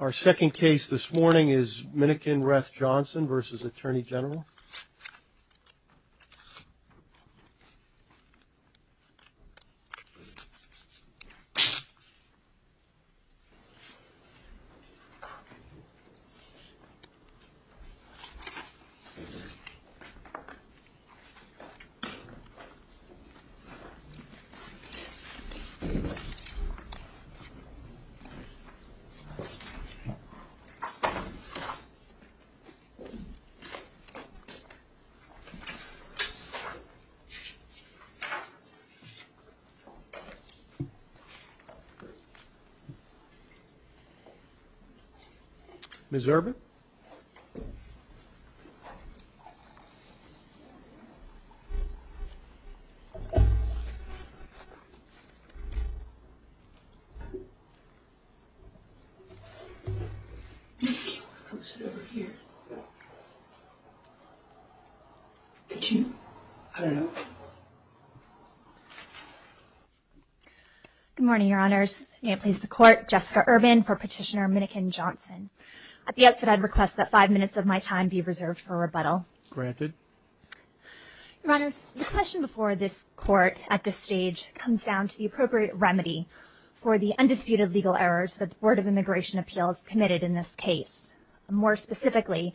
Our second case this morning is Minnikin-Reth-Johnson v. Attorney General. Ms. Urban? Good morning, Your Honors. May it please the Court, Jessica Urban for Petitioner Minnickin-Johnson. At the outset, I'd request that five minutes of my time be reserved for rebuttal. Granted. Your Honors, the question before this Court at this stage comes down to the appropriate remedy for the undisputed legal errors that the Board of Immigration Appeals committed in this case. More specifically,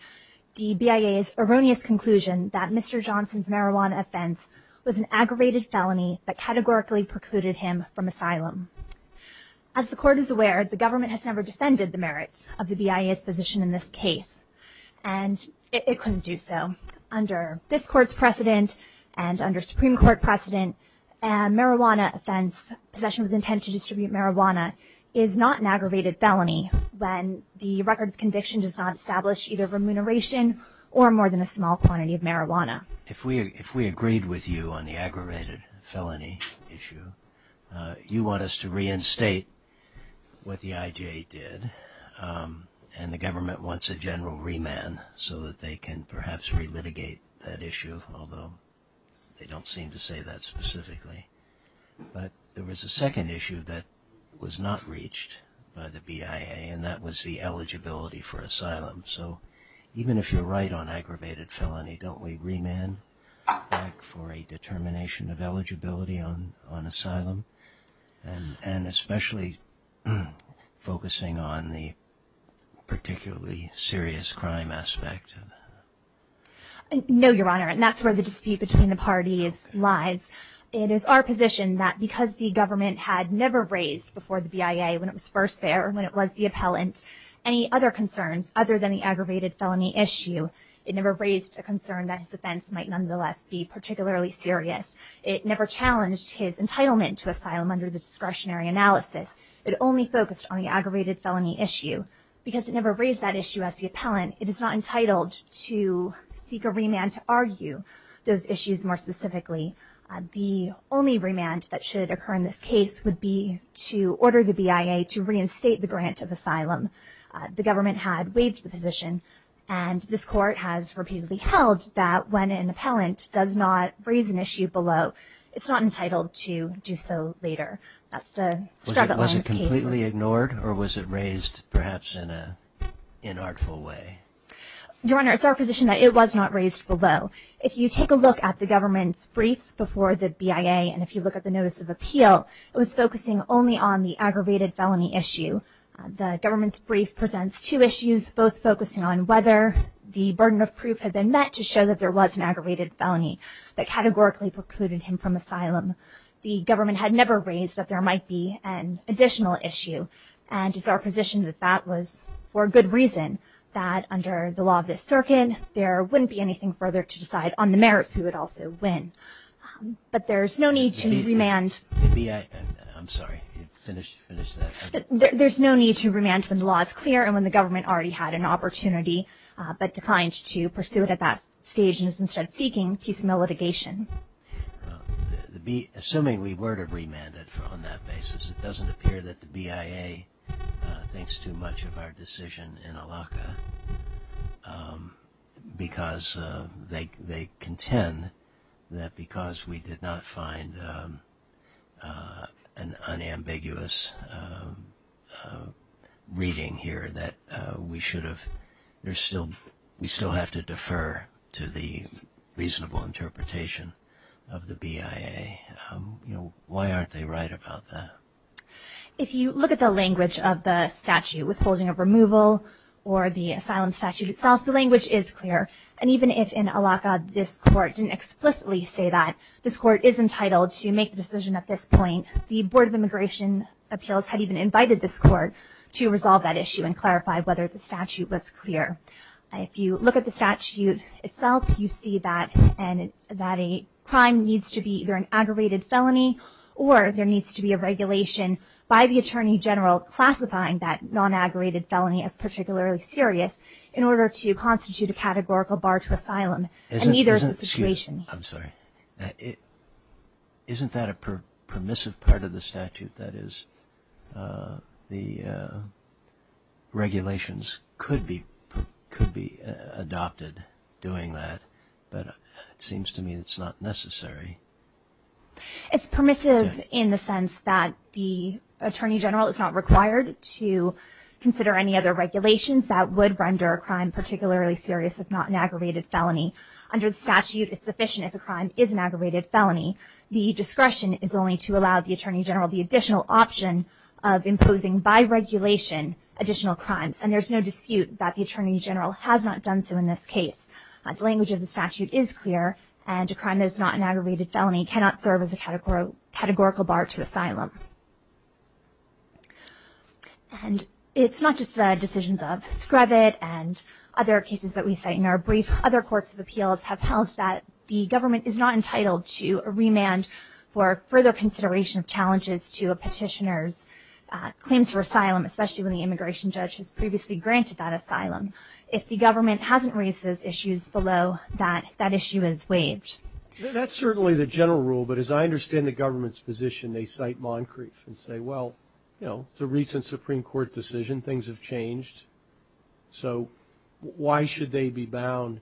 the BIA's erroneous conclusion that Mr. Johnson's marijuana offense was an aggravated felony that categorically precluded him from asylum. As the Court is aware, the government has never defended the merits of the BIA's position in this case, and it couldn't do so. Under this Court's precedent and under Supreme Court precedent, a marijuana offense, possession with intent to distribute marijuana, is not an aggravated felony when the record of conviction does not establish either remuneration or more than a small quantity of marijuana. If we agreed with you on the aggravated felony issue, you want us to reinstate what the I.J. did, and the government wants a general remand so that they can perhaps relitigate that issue, although they don't seem to say that specifically. But there was a second issue that was not reached by the BIA, and that was the eligibility for asylum. So even if you're right on aggravated felony, don't we remand back for a determination of focusing on the particularly serious crime aspect? No, Your Honor, and that's where the dispute between the parties lies. It is our position that because the government had never raised before the BIA when it was first there, when it was the appellant, any other concerns other than the aggravated felony issue, it never raised a concern that his offense might nonetheless be particularly serious. It never challenged his entitlement to asylum under the discretionary analysis. It only focused on the aggravated felony issue. Because it never raised that issue as the appellant, it is not entitled to seek a remand to argue those issues more specifically. The only remand that should occur in this case would be to order the BIA to reinstate the grant of asylum. The government had waived the position, and this Court has repeatedly held that when an appellant does not raise an issue below, it's not entitled to do so later. That's the struggle in this case. Was it completely ignored, or was it raised perhaps in an inartful way? Your Honor, it's our position that it was not raised below. If you take a look at the government's briefs before the BIA, and if you look at the Notice of Appeal, it was focusing only on the aggravated felony issue. The government's brief presents two issues, both focusing on whether the burden of proof had been met to show that there was an aggravated felony that categorically precluded him from asylum. The government had never raised that there might be an additional issue, and it's our position that that was for good reason, that under the law of this circuit, there wouldn't be anything further to decide on the merits, who would also win. But there's no need to remand. The BIA, I'm sorry, finish that. There's no need to remand when the law is clear and when the government already had an opportunity but declined to pursue it at that stage, and is instead seeking piecemeal litigation. Assuming we were to remand it on that basis, it doesn't appear that the BIA thinks too much of our decision in Alaca, because they contend that because we did not find an unambiguous reading here that we should have, we still have to defer to the reasonable interpretation of the BIA. Why aren't they right about that? If you look at the language of the statute withholding of removal or the asylum statute itself, the language is clear. And even if in Alaca this court didn't explicitly say that, this court is entitled to make the decision. The Board of Immigration Appeals had even invited this court to resolve that issue and clarify whether the statute was clear. If you look at the statute itself, you see that a crime needs to be either an aggravated felony or there needs to be a regulation by the Attorney General classifying that non-aggravated felony as particularly serious in order to constitute a categorical bar to asylum. And neither is the situation here. Excuse me, I'm sorry. Isn't that a permissive part of the statute, that is, the regulations could be adopted doing that, but it seems to me it's not necessary. It's permissive in the sense that the Attorney General is not required to consider any other aggravated felony. Under the statute, it's sufficient if a crime is an aggravated felony. The discretion is only to allow the Attorney General the additional option of imposing by regulation additional crimes. And there's no dispute that the Attorney General has not done so in this case. The language of the statute is clear, and a crime that is not an aggravated felony cannot serve as a categorical bar to asylum. And it's not just the decisions of Scrivett and other cases that we cite in our brief. Other courts of appeals have held that the government is not entitled to a remand for further consideration of challenges to a petitioner's claims for asylum, especially when the immigration judge has previously granted that asylum. If the government hasn't raised those issues below, that issue is waived. That's certainly the general rule, but as I understand the government's position, they cite Moncrief and say, well, you know, it's a recent Supreme Court decision. Things have changed. So why should they be bound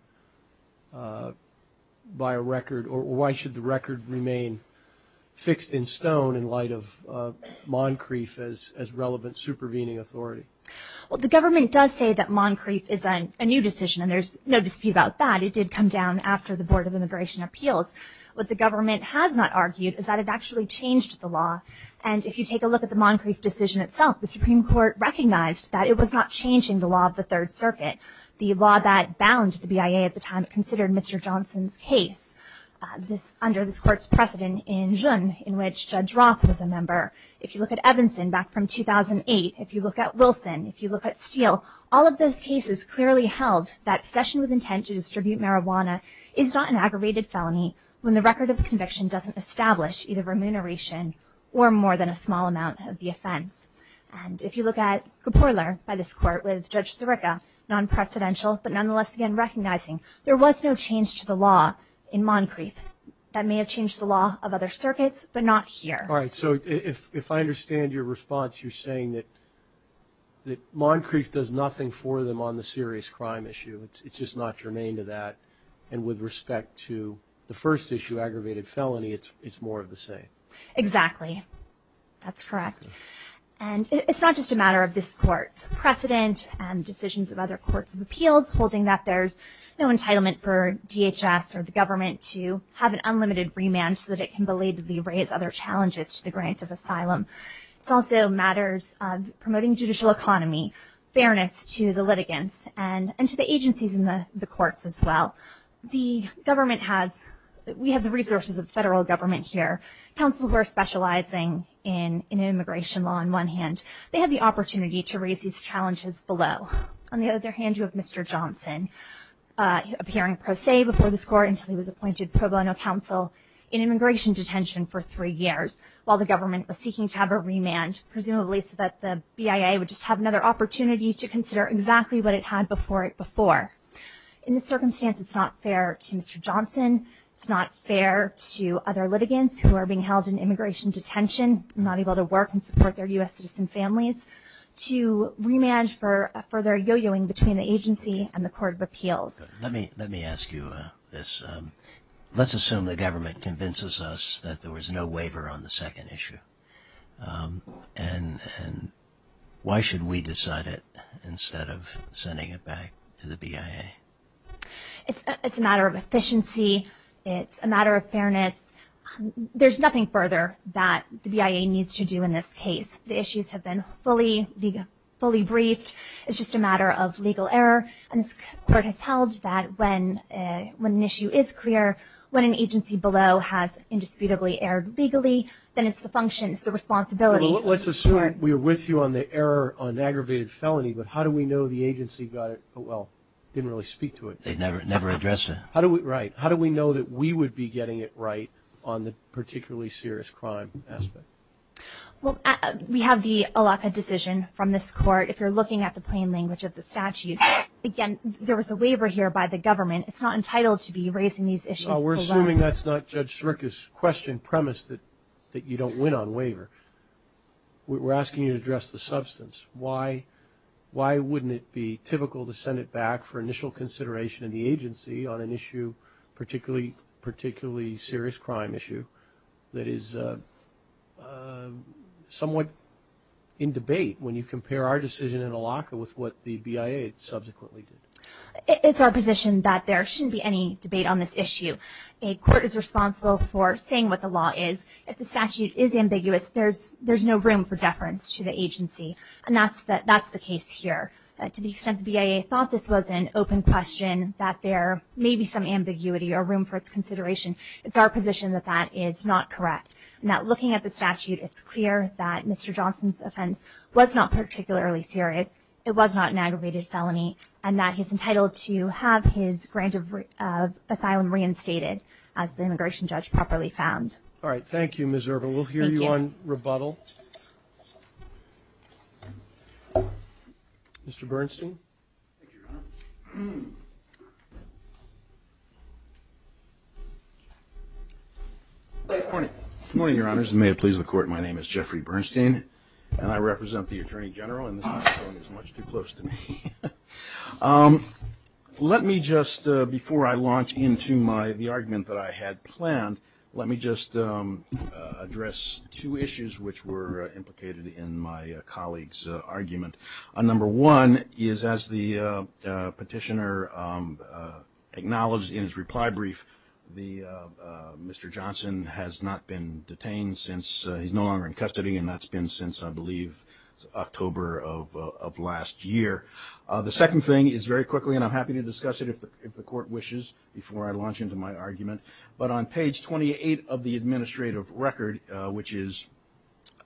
by a record? Or why should the record remain fixed in stone in light of Moncrief as relevant supervening authority? Well, the government does say that Moncrief is a new decision, and there's no dispute about that. It did come down after the Board of Immigration Appeals. What the government has not argued is that it actually changed the law. And if you take a look at the Moncrief decision itself, the Supreme Court recognized that it was not changing the law of the Third Circuit, the law that bound the BIA at the time it considered Mr. Johnson's case. Under this court's precedent in June, in which Judd Roth was a member. If you look at Evanson back from 2008, if you look at Wilson, if you look at Steele, all of those cases clearly held that possession with intent to distribute marijuana is not an aggravated felony when the record of conviction doesn't establish either remuneration or more than a small amount of the offense. And if you look at Kaporler by this court with Judge Sirica, non-precedential, but nonetheless again recognizing there was no change to the law in Moncrief. That may have changed the law of other circuits, but not here. All right, so if I understand your response, you're saying that Moncrief does nothing for them on the serious crime issue. It's just not germane to that. And with respect to the first issue, aggravated felony, it's more of the same. Exactly. That's correct. And it's not just a matter of this court's precedent and decisions of other courts of appeals holding that there's no entitlement for DHS or the government to have an unlimited remand so that it can belatedly raise other challenges to the grant of asylum. It's also matters of promoting judicial economy, fairness to the litigants, and to the agencies in the courts as well. The government has, we have the resources of federal government here. Councils who are specializing in immigration law on one hand, they have the opportunity to raise these challenges below. On the other hand, you have Mr. Johnson, appearing pro se before this court until he was appointed pro bono counsel in immigration detention for three years while the government was seeking to have a remand, presumably so that the BIA would just have another opportunity to consider exactly what it had before it before. In this circumstance, it's not fair to Mr. Johnson. It's not fair to other litigants who are being held in immigration detention, not able to work and support their U.S. citizen families, to remand for further yo-yoing between the agency and the court of appeals. Let me ask you this. Let's assume the government convinces us that there was no waiver on the second issue. And why should we decide it instead of sending it back to the BIA? It's a matter of efficiency. It's a matter of fairness. There's nothing further that the BIA needs to do in this case. The issues have been fully briefed. It's just a matter of legal error. And this court has held that when an issue is clear, when an agency below has indisputably erred legally, then it's the function, it's the responsibility of the court. Let's assume we are with you on the error on aggravated felony, but how do we know the They never addressed it. Right. How do we know that we would be getting it right on the particularly serious crime aspect? We have the ALACA decision from this court. If you're looking at the plain language of the statute, again, there was a waiver here by the government. It's not entitled to be raising these issues below. We're assuming that's not Judge Sirica's question, premise, that you don't win on waiver. We're asking you to address the substance. Why wouldn't it be typical to send it back for initial consideration in the agency on an issue, particularly serious crime issue, that is somewhat in debate when you compare our decision in ALACA with what the BIA subsequently did? It's our position that there shouldn't be any debate on this issue. A court is responsible for saying what the law is. If the statute is ambiguous, there's no room for deference to the agency. That's the case here. To the extent the BIA thought this was an open question, that there may be some ambiguity or room for its consideration, it's our position that that is not correct. Looking at the statute, it's clear that Mr. Johnson's offense was not particularly serious. It was not an aggravated felony and that he's entitled to have his grant of asylum reinstated as the immigration judge properly found. All right. Thank you, Ms. Ervin. Thank you. We'll hear you on rebuttal. Mr. Bernstein. Good morning, Your Honors, and may it please the Court, my name is Jeffrey Bernstein and I represent the Attorney General and this microphone is much too close to me. Let me just, before I launch into the argument that I had planned, let me just address two things that were implicated in my colleague's argument. Number one is, as the petitioner acknowledged in his reply brief, Mr. Johnson has not been detained since, he's no longer in custody, and that's been since, I believe, October of last year. The second thing is, very quickly, and I'm happy to discuss it if the Court wishes before I launch into my argument, but on page 28 of the administrative record, which is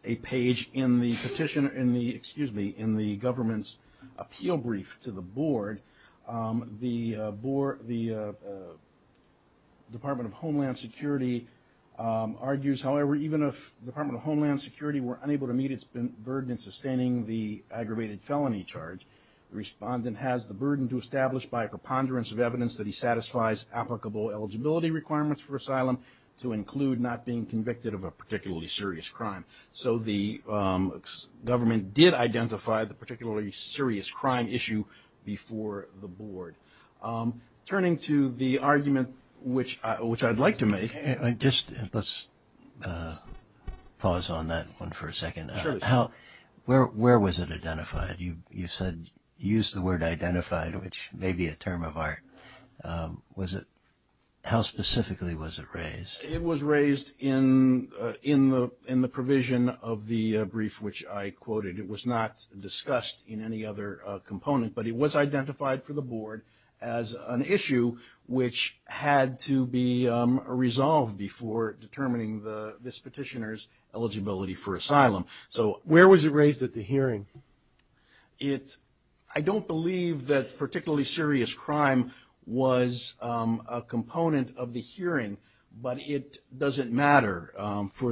a page in the petition, excuse me, in the government's appeal brief to the Board, the Department of Homeland Security argues, however, even if the Department of Homeland Security were unable to meet its burden in sustaining the aggravated felony charge, the respondent has the burden to establish by a preponderance of evidence that he satisfies applicable eligibility requirements for asylum to include not being convicted of a particularly serious crime. So the government did identify the particularly serious crime issue before the Board. Turning to the argument, which I'd like to make. Just let's pause on that one for a second. Where was it identified? You said, you used the word identified, which may be a term of art. Was it, how specifically was it raised? It was raised in the provision of the brief which I quoted. It was not discussed in any other component, but it was identified for the Board as an issue which had to be resolved before determining this petitioner's eligibility for asylum. Where was it raised at the hearing? I don't believe that particularly serious crime was a component of the hearing, but it doesn't matter for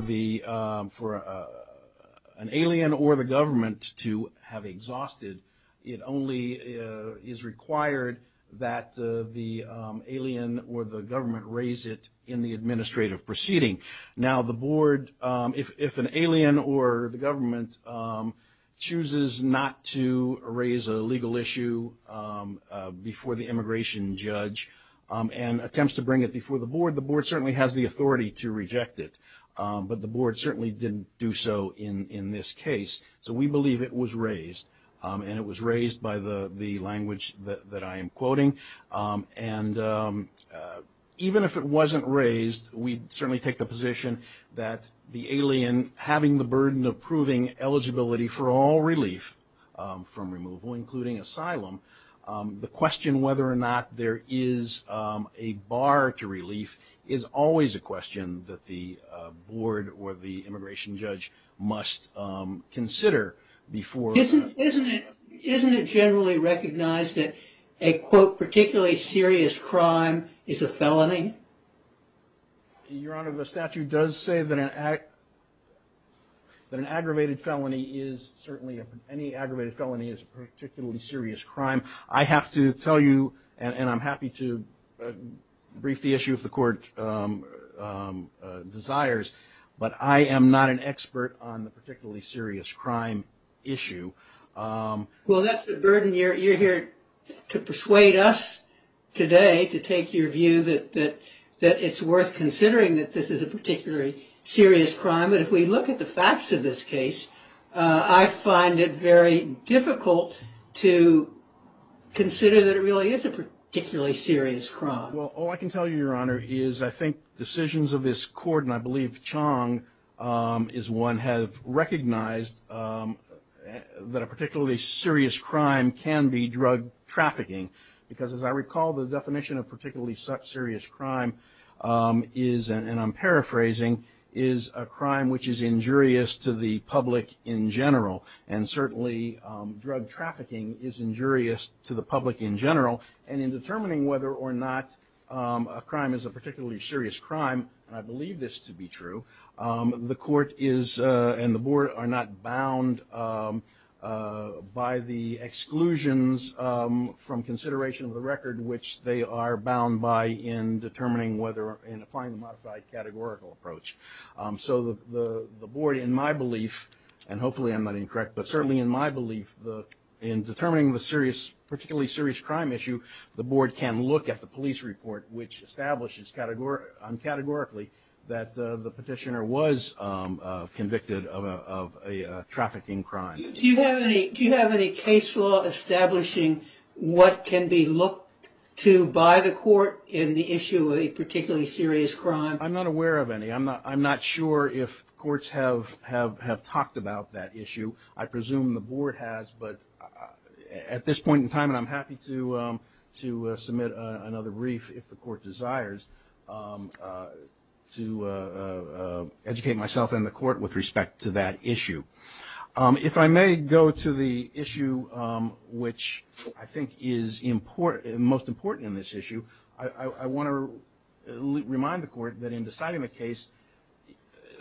an alien or the government to have exhausted. It only is required that the alien or the government raise it in the administrative proceeding. Now the Board, if an alien or the government chooses not to raise a legal issue before the immigration judge and attempts to bring it before the Board, the Board certainly has the authority to reject it, but the Board certainly didn't do so in this case. So we believe it was raised, and it was raised by the language that I am quoting. And even if it wasn't raised, we'd certainly take the position that the alien having the burden of proving eligibility for all relief from removal, including asylum, the question whether or not there is a bar to relief is always a question that the Board or the immigration judge must consider before- Isn't it generally recognized that a quote, particularly serious crime is a felony? Your Honor, the statute does say that an aggravated felony is certainly, any aggravated felony is a particularly serious crime. I have to tell you, and I'm happy to brief the issue if the Court desires, but I am not an expert on the particularly serious crime issue. Well, that's the burden you're here to persuade us today to take your view that it's worth considering that this is a particularly serious crime, but if we look at the facts of this case, I find it very difficult to consider that it really is a particularly serious crime. Well, all I can tell you, Your Honor, is I think decisions of this Court, and I believe Chong is one, have recognized that a particularly serious crime can be drug trafficking. Because as I recall, the definition of particularly serious crime is, and I'm paraphrasing, is a crime which is injurious to the public in general. And certainly, drug trafficking is injurious to the public in general. And in determining whether or not a crime is a particularly serious crime, and I believe this to be true, the Court is, and the Board, are not bound by the exclusions from consideration of the record, which they are bound by in determining whether, in applying the modified categorical approach. So the Board, in my belief, and hopefully I'm not incorrect, but certainly in my belief, in determining the particularly serious crime issue, the Board can look at the police report, which establishes categorically that the petitioner was convicted of a trafficking crime. Do you have any case law establishing what can be looked to by the Court in the issue of a particularly serious crime? I'm not aware of any. I'm not sure if courts have talked about that issue. I presume the Board has, but at this point in time, and I'm happy to submit another brief if the Court desires, to educate myself and the Court with respect to that issue. If I may go to the issue which I think is most important in this issue, I want to remind the Court that in deciding the case,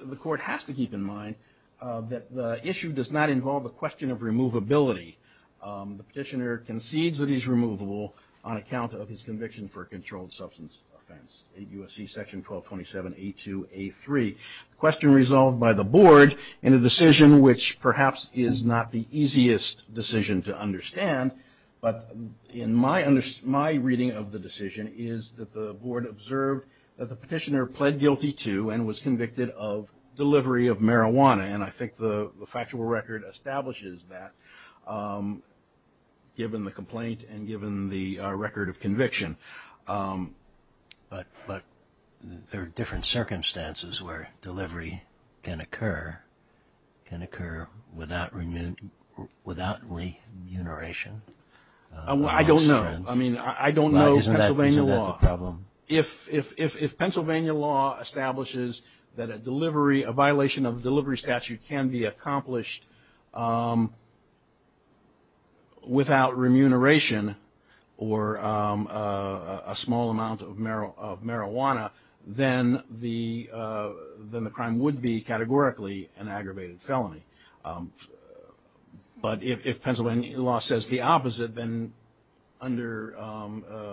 the Court has to keep in mind that the issue does not involve the question of removability. The petitioner concedes that he's removable on account of his conviction for a controlled substance offense, 8 U.S.C. Section 1227. A2. A3. A question resolved by the Board in a decision which perhaps is not the easiest decision to understand, but in my reading of the decision is that the Board observed that the petitioner pled guilty to and was convicted of delivery of marijuana. And I think the factual record establishes that, given the complaint and given the record of conviction. But there are different circumstances where delivery can occur without remuneration. I don't know. I mean, I don't know. Isn't that the problem? If Pennsylvania law establishes that a delivery, a violation of delivery statute can be accomplished without remuneration or a small amount of marijuana, then the crime would be categorically an aggravated felony. But if Pennsylvania law says the opposite, then under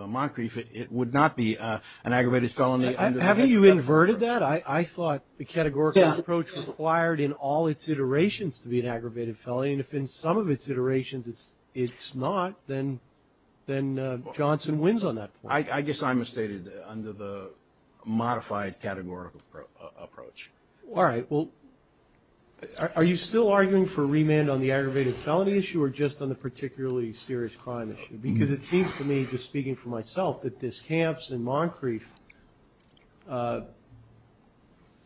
Moncrieff, it would not be an aggravated felony. Haven't you inverted that? Well, I thought the categorical approach required in all its iterations to be an aggravated felony. And if in some of its iterations it's not, then Johnson wins on that point. I guess I'm stated under the modified categorical approach. All right, well, are you still arguing for remand on the aggravated felony issue or just on the particularly serious crime issue? Because it seems to me, just speaking for myself, that this Camps and Moncrieff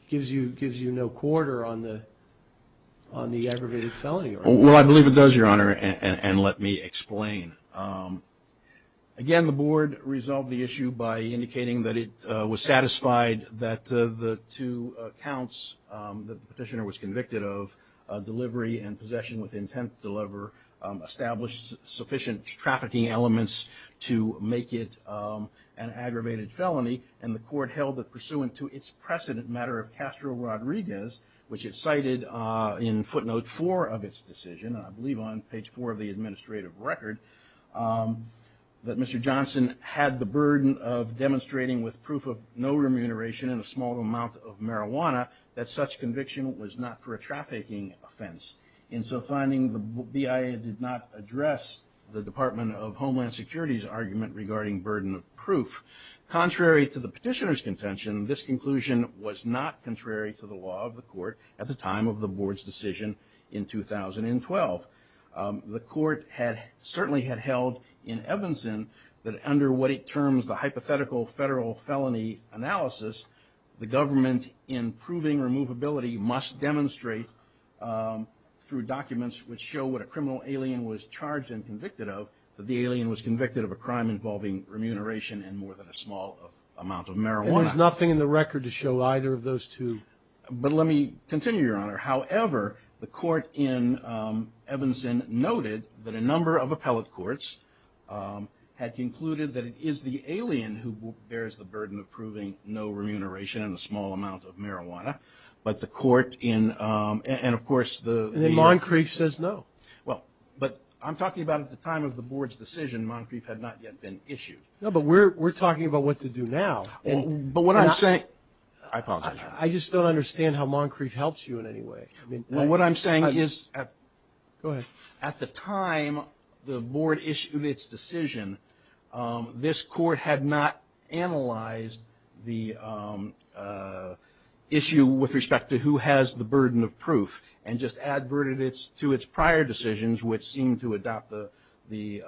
gives you no quarter on the aggravated felony argument. Well, I believe it does, Your Honor, and let me explain. Again, the board resolved the issue by indicating that it was satisfied that the two accounts that the petitioner was convicted of, delivery and possession with intent to deliver, established sufficient trafficking elements to make it an aggravated felony. And the court held that pursuant to its precedent matter of Castro-Rodriguez, which it cited in footnote four of its decision, I believe on page four of the administrative record, that Mr. Johnson had the burden of demonstrating with proof of no remuneration and a small amount of marijuana that such conviction was not for a trafficking offense. In so finding, the BIA did not address the Department of Homeland Security's argument regarding burden of proof. Contrary to the petitioner's contention, this conclusion was not contrary to the law of the court at the time of the board's decision in 2012. The court certainly had held in Evanston that under what it terms the hypothetical federal felony analysis, the government in proving removability must demonstrate through documents which show what a criminal alien was charged and convicted of, that the alien was convicted of a crime involving remuneration and more than a small amount of marijuana. And there's nothing in the record to show either of those two? But let me continue, Your Honor. However, the court in Evanston noted that a number of appellate courts had concluded that it is the alien who bears the burden of proving no remuneration and a small amount of marijuana. But the court in, and of course, the... And then Moncrief says no. Well, but I'm talking about at the time of the board's decision, Moncrief had not yet been issued. No, but we're talking about what to do now. But what I'm saying... I apologize, Your Honor. I just don't understand how Moncrief helps you in any way. Well, what I'm saying is at the time the board issued its decision, this court had not analyzed the issue with respect to who has the burden of proof and just adverted it to its prior decisions which seemed to adopt the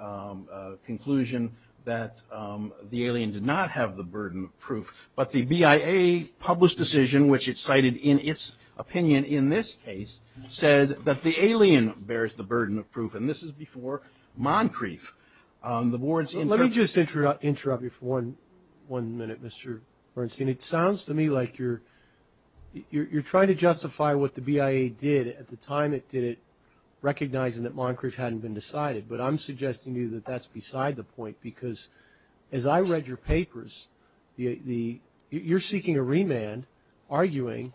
conclusion that the alien did not have the burden of proof. But the BIA published decision, which it cited in its opinion in this case, said that the alien bears the burden of proof, and this is before Moncrief. The board's... Let me just interrupt you for one minute, Mr. Bernstein. It sounds to me like you're trying to justify what the BIA did at the time it did it, recognizing that Moncrief hadn't been decided. But I'm suggesting to you that that's beside the point, because as I read your papers, you're seeking a remand, arguing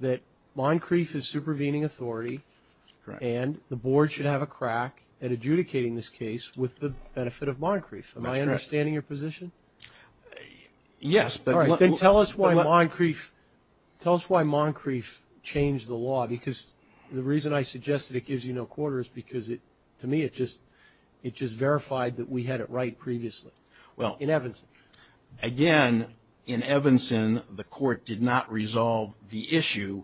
that Moncrief is supervening authority and the board should have a crack at adjudicating this case with the benefit of Moncrief. Am I understanding your position? Yes, but... All right, then tell us why Moncrief changed the law, because the reason I suggested it is it just verified that we had it right previously in Evanson. Again, in Evanson, the court did not resolve the issue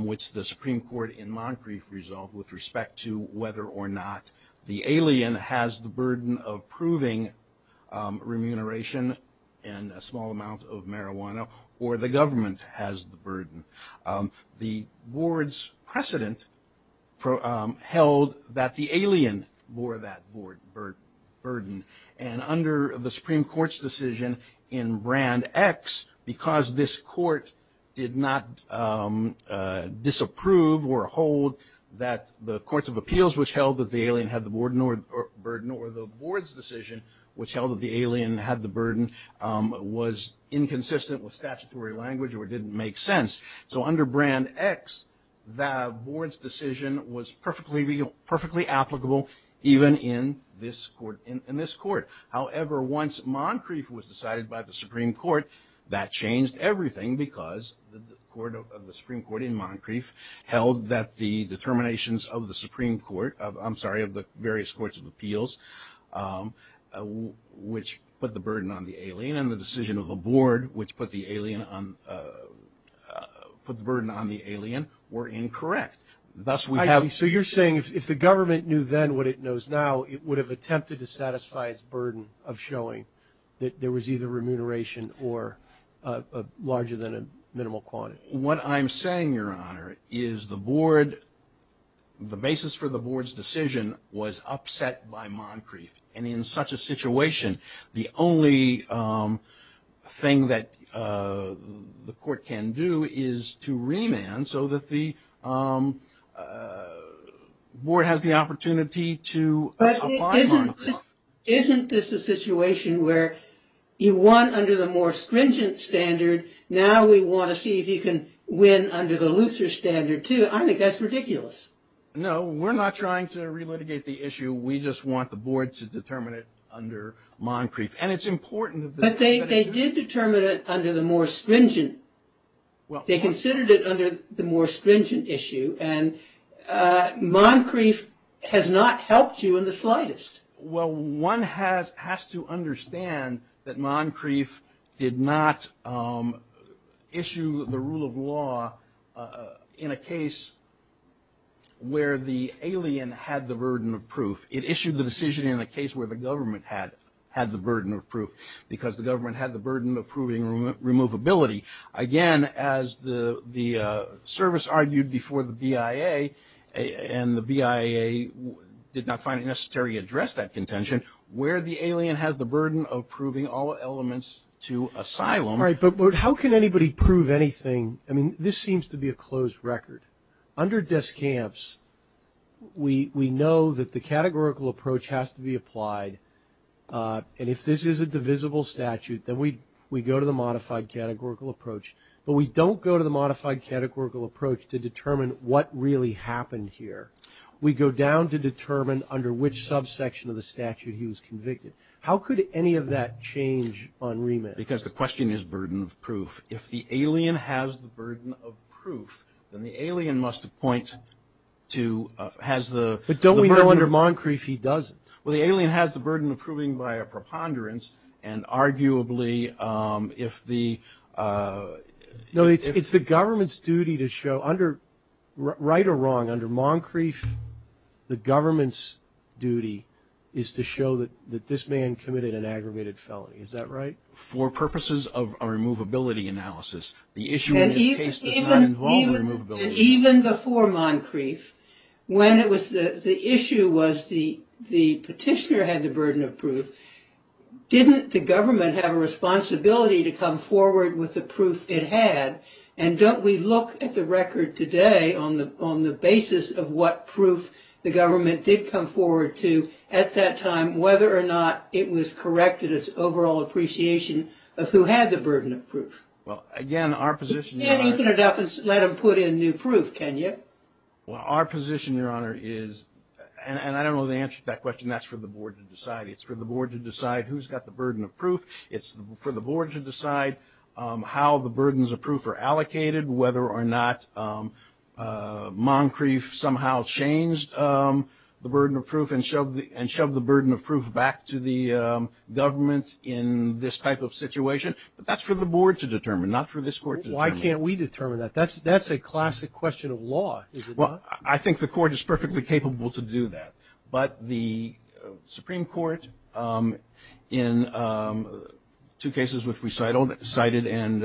which the Supreme Court in Moncrief resolved with respect to whether or not the alien has the burden of proving remuneration and a small amount of marijuana, or the government has the burden. The board's precedent held that the alien bore that burden, and under the Supreme Court's decision in Brand X, because this court did not disapprove or hold that the courts of appeals which held that the alien had the burden, or the board's decision which held that the alien had the burden, was inconsistent with statutory language or didn't make sense. So under Brand X, the board's decision was perfectly applicable even in this court. However, once Moncrief was decided by the Supreme Court, that changed everything because the Supreme Court in Moncrief held that the determinations of the various courts of appeals, which put the burden on the alien, and the decision of the board, which put the burden on the alien, were incorrect. Thus, we have... So you're saying if the government knew then what it knows now, it would have attempted to satisfy its burden of showing that there was either remuneration or larger than a minimal quantity. What I'm saying, Your Honor, is the board, the basis for the board's decision was upset by Moncrief. And in such a situation, the only thing that the court can do is to remand so that the board has the opportunity to apply Moncrief. Isn't this a situation where you won under the more stringent standard, now we want to see if you can win under the looser standard too? I think that's ridiculous. No, we're not trying to relitigate the issue. We just want the board to determine it under Moncrief. And it's important that... But they did determine it under the more stringent. They considered it under the more stringent issue, and Moncrief has not helped you in the slightest. Well, one has to understand that Moncrief did not issue the rule of law in a case where the alien had the burden of proof. It issued the decision in a case where the government had the burden of proof, because the government had the burden of proving removability. Again, as the service argued before the BIA, and the BIA did not find it necessary to address that contention, where the alien has the burden of proving all elements to asylum... Right, but how can anybody prove anything? I mean, this seems to be a closed record. Under Descamps, we know that the categorical approach has to be applied, and if this is a divisible statute, then we go to the modified categorical approach. But we don't go to the modified categorical approach to determine what really happened here. We go down to determine under which subsection of the statute he was convicted. How could any of that change on remit? Because the question is burden of proof. If the alien has the burden of proof, then the alien must appoint to...has the... But don't we know under Moncrief he doesn't? Well, the alien has the burden of proving by a preponderance, and arguably if the... It's the government's duty to show, right or wrong, under Moncrief, the government's duty is to show that this man committed an aggravated felony. Is that right? For purposes of a removability analysis, the issue in this case does not involve removability. Even before Moncrief, when it was...the issue was the petitioner had the burden of proof. Didn't the government have a responsibility to come forward with the proof it had? And don't we look at the record today on the basis of what proof the government did come forward to at that time, whether or not it was corrected as overall appreciation of who had the burden of proof? Well, again, our position... You can't open it up and let them put in new proof, can you? Well, our position, Your Honor, is...and I don't know the answer to that question. That's for the board to decide. It's for the board to decide who's got the burden of proof. It's for the board to decide how the burdens of proof are allocated, whether or not Moncrief somehow changed the burden of proof and shoved the burden of proof back to the government in this type of situation. But that's for the board to determine, not for this Court to determine. Why can't we determine that? That's a classic question of law, is it not? Well, I think the Court is perfectly capable to do that. But the Supreme Court in two cases which we cited, and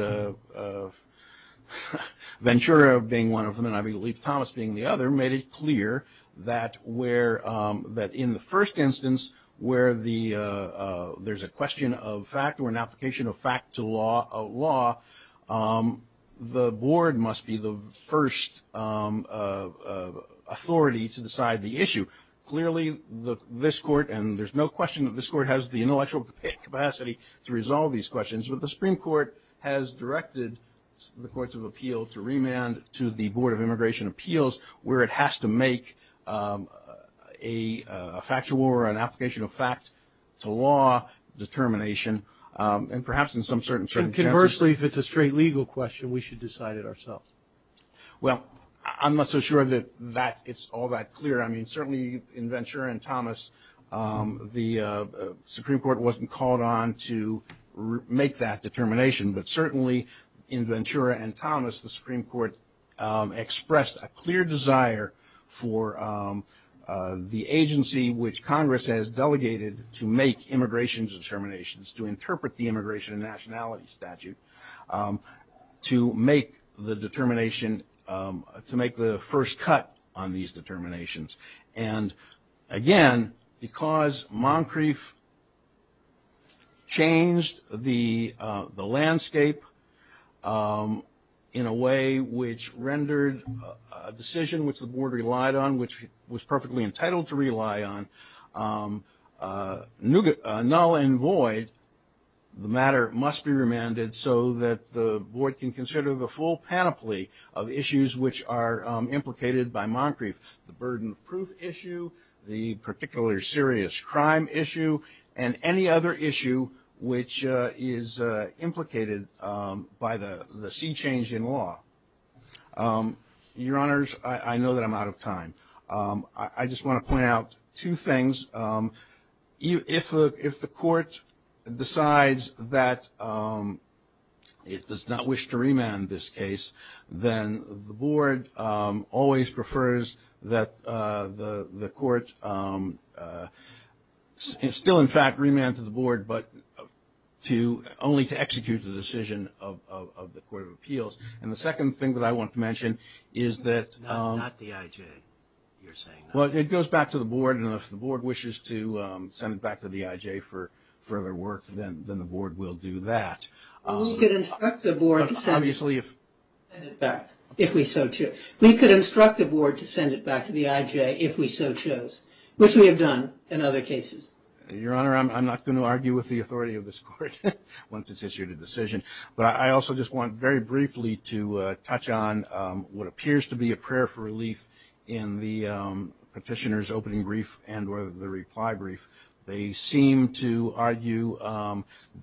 Ventura being one of them, and I believe Thomas being the other, made it clear that in the first instance where there's a question of fact or an application of fact to law, the board must be the first authority to decide the issue. Clearly, this Court, and there's no question that this Court has the intellectual capacity to resolve these questions, but the Supreme Court has directed the Courts of Appeal to remand to the Board of Immigration Appeals, where it has to make a factual or an application of fact to law determination, and perhaps in some certain circumstances... And conversely, if it's a straight legal question, we should decide it ourselves. Well, I'm not so sure that it's all that clear. I mean, certainly in Ventura and Thomas, the Supreme Court wasn't called on to make that determination, but certainly in Ventura and Thomas, the Supreme Court expressed a clear desire for the agency which Congress has delegated to make immigration determinations, to interpret the immigration and nationality statute, to make the determination, to make the first cut on these determinations. And again, because Moncrief changed the landscape in a way which rendered a decision which the board relied on, which it was perfectly entitled to rely on, null and void, the matter must be remanded so that the board can consider the full panoply of issues which are implicated by Moncrief, the burden of proof issue, the particular serious crime issue, and any other issue which is implicated by the sea change in law. Your Honors, I know that I'm out of time. I just want to point out two things. If the court decides that it does not wish to remand this case, then the board always provides a preface that the court still in fact remanded the board, but only to execute the decision of the Court of Appeals. And the second thing that I want to mention is that it goes back to the board, and if the board wishes to send it back to the IJ for further work, then the board will do that. We could instruct the board to send it back to the IJ if we so chose, which we have done in other cases. Your Honor, I'm not going to argue with the authority of this court once it's issued a decision, but I also just want very briefly to touch on what appears to be a prayer for relief in the petitioner's opening brief and the reply brief. They seem to argue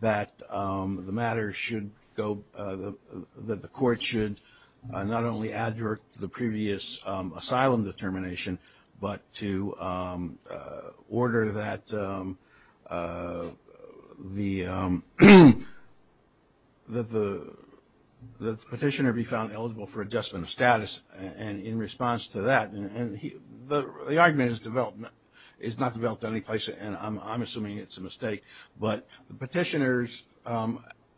that the matter should go – that the court should not only adjure the previous asylum determination, but to order that the petitioner be found eligible for adjustment of status. And in response to that – and the argument is developed – is not developed in any place, and I'm not going to argue with that. The petitioner's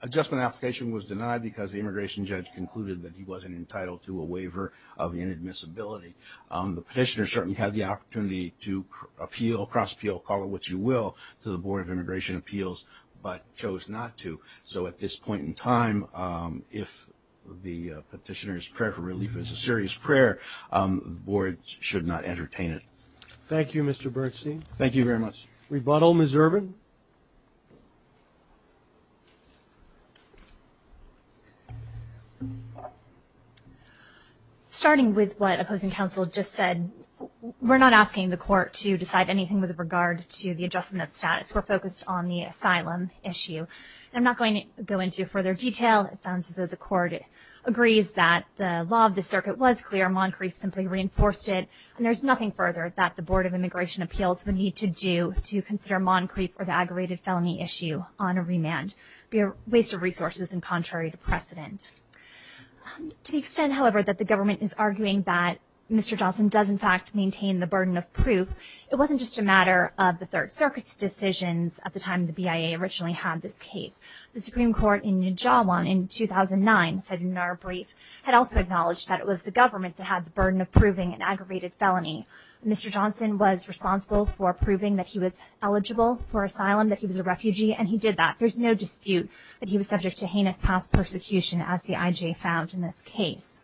adjustment application was denied because the immigration judge concluded that he wasn't entitled to a waiver of inadmissibility. The petitioner certainly had the opportunity to appeal – cross-appeal, call it what you will – to the Board of Immigration Appeals, but chose not to. So at this point in time, if the petitioner's prayer for relief is a serious prayer, the board should not entertain it. Thank you, Mr. Bergstein. Thank you very much. Rebuttal, Ms. Urban. Starting with what opposing counsel just said, we're not asking the court to decide anything with regard to the adjustment of status. We're focused on the asylum issue. I'm not going to go into further detail. It sounds as though the court agrees that the law of the circuit was clear. Moncrief simply reinforced it. And there's nothing further that the Board of Immigration Appeals would need to do to consider moncrief or the aggravated felony issue on a remand. It would be a waste of resources and contrary to precedent. To the extent, however, that the government is arguing that Mr. Johnson does in fact maintain the burden of proof, it wasn't just a matter of the Third Circuit's decisions at the time the BIA originally had this case. The Supreme Court in Nijawan in 2009, cited in our brief, had also acknowledged that it was the government that had the burden of proving an aggravated felony. Mr. Johnson was responsible for proving that he was eligible for asylum, that he was a refugee, and he did that. There's no dispute that he was subject to heinous past persecution, as the IJ found in this case.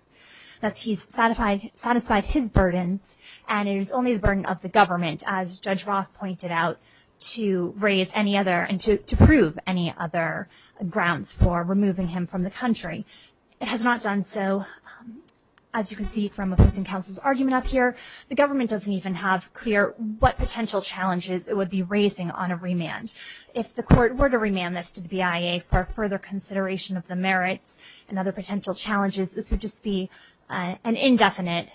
Thus, he's satisfied his burden and it is only the burden of the government, as Judge Roth pointed out, to raise any other and to prove any other grounds for removing him from the country. It has not done so. As you can see from opposing counsel's argument up here, the government doesn't even have clear what potential challenges it would be raising on a remand. If the court were to remand this to the BIA for further consideration of the merits and other potential challenges, this would just be an indefinite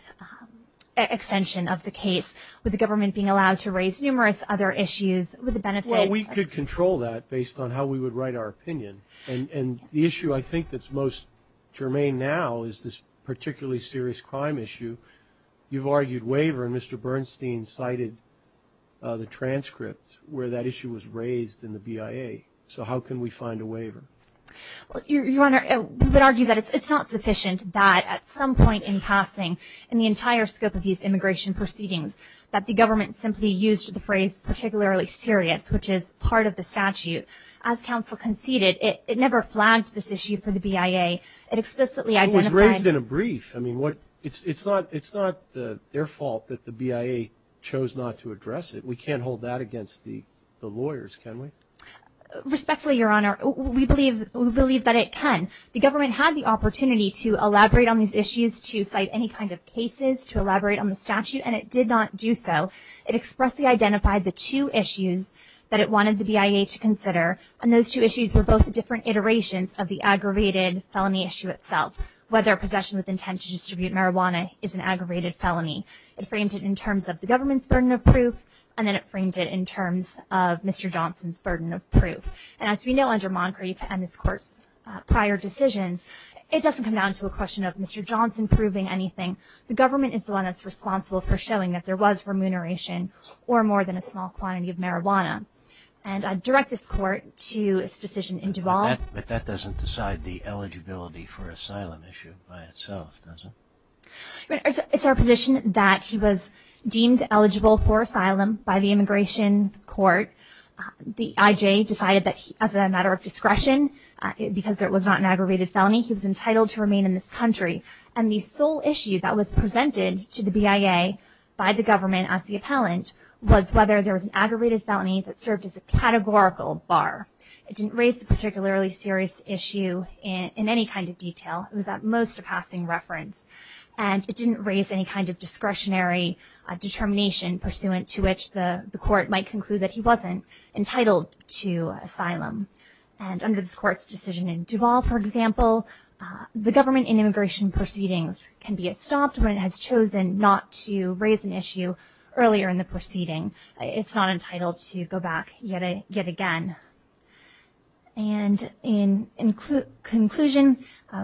extension of the case, with the government being allowed to raise numerous other issues with the benefit of- Well, we could control that based on how we would write our opinion. And the issue I think that's most germane now is this particularly serious crime issue. You've argued waiver, and Mr. Bernstein cited the transcripts where that issue was raised in the BIA. So how can we find a waiver? Well, Your Honor, we would argue that it's not sufficient that, at some point in passing, in the entire scope of these immigration proceedings, that the government simply used the phrase particularly serious, which is part of the statute. As counsel conceded, it never flagged this issue for the BIA. It explicitly identified- It was raised in a brief. I mean, what- It's not their fault that the BIA chose not to address it. We can't hold that against the lawyers, can we? Respectfully, Your Honor, we believe that it can. The government had the opportunity to elaborate on these issues, to cite any kind of cases, to elaborate on the statute, and it did not do so. It expressly identified the two issues that it wanted the BIA to consider, and those two issues were both different iterations of the aggravated felony issue itself, whether possession with intent to distribute marijuana is an aggravated felony. It framed it in terms of the government's burden of proof, and then it framed it in terms of Mr. Johnson's burden of proof. And as we know, under Moncrief and this Court's prior decisions, it doesn't come down to a question of Mr. Johnson proving anything. The government is the one that's responsible for showing that there was remuneration or more than a small quantity of marijuana. And I direct this Court to its decision in Duval- But that doesn't decide the eligibility for asylum issue by itself, does it? It's our position that he was deemed eligible for asylum by the Immigration Court. The I.J. decided that as a matter of discretion, because it was not an aggravated felony, he was entitled to remain in this country. And the sole issue that was presented to the BIA by the government as the appellant was whether there was an aggravated felony that served as a categorical bar. It didn't raise the particularly serious issue in any kind of detail. It was at most a passing reference. And it didn't raise any kind of discretionary determination pursuant to which the Court might conclude that he wasn't entitled to asylum. And under this Court's decision in Duval, for example, the government in immigration proceedings can be stopped when it has chosen not to raise an issue earlier in the proceeding. It's not entitled to go back yet again. And in conclusion,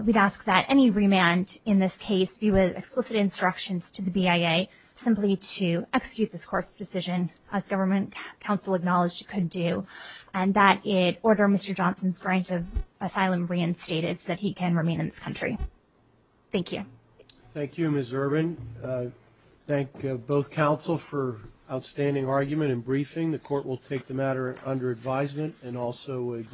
we'd ask that any remand in this case be with explicit instructions to the BIA simply to execute this Court's decision as government counsel acknowledged it could do. And that it order Mr. Johnson's grant of asylum reinstated so that he can remain in this country. Thank you.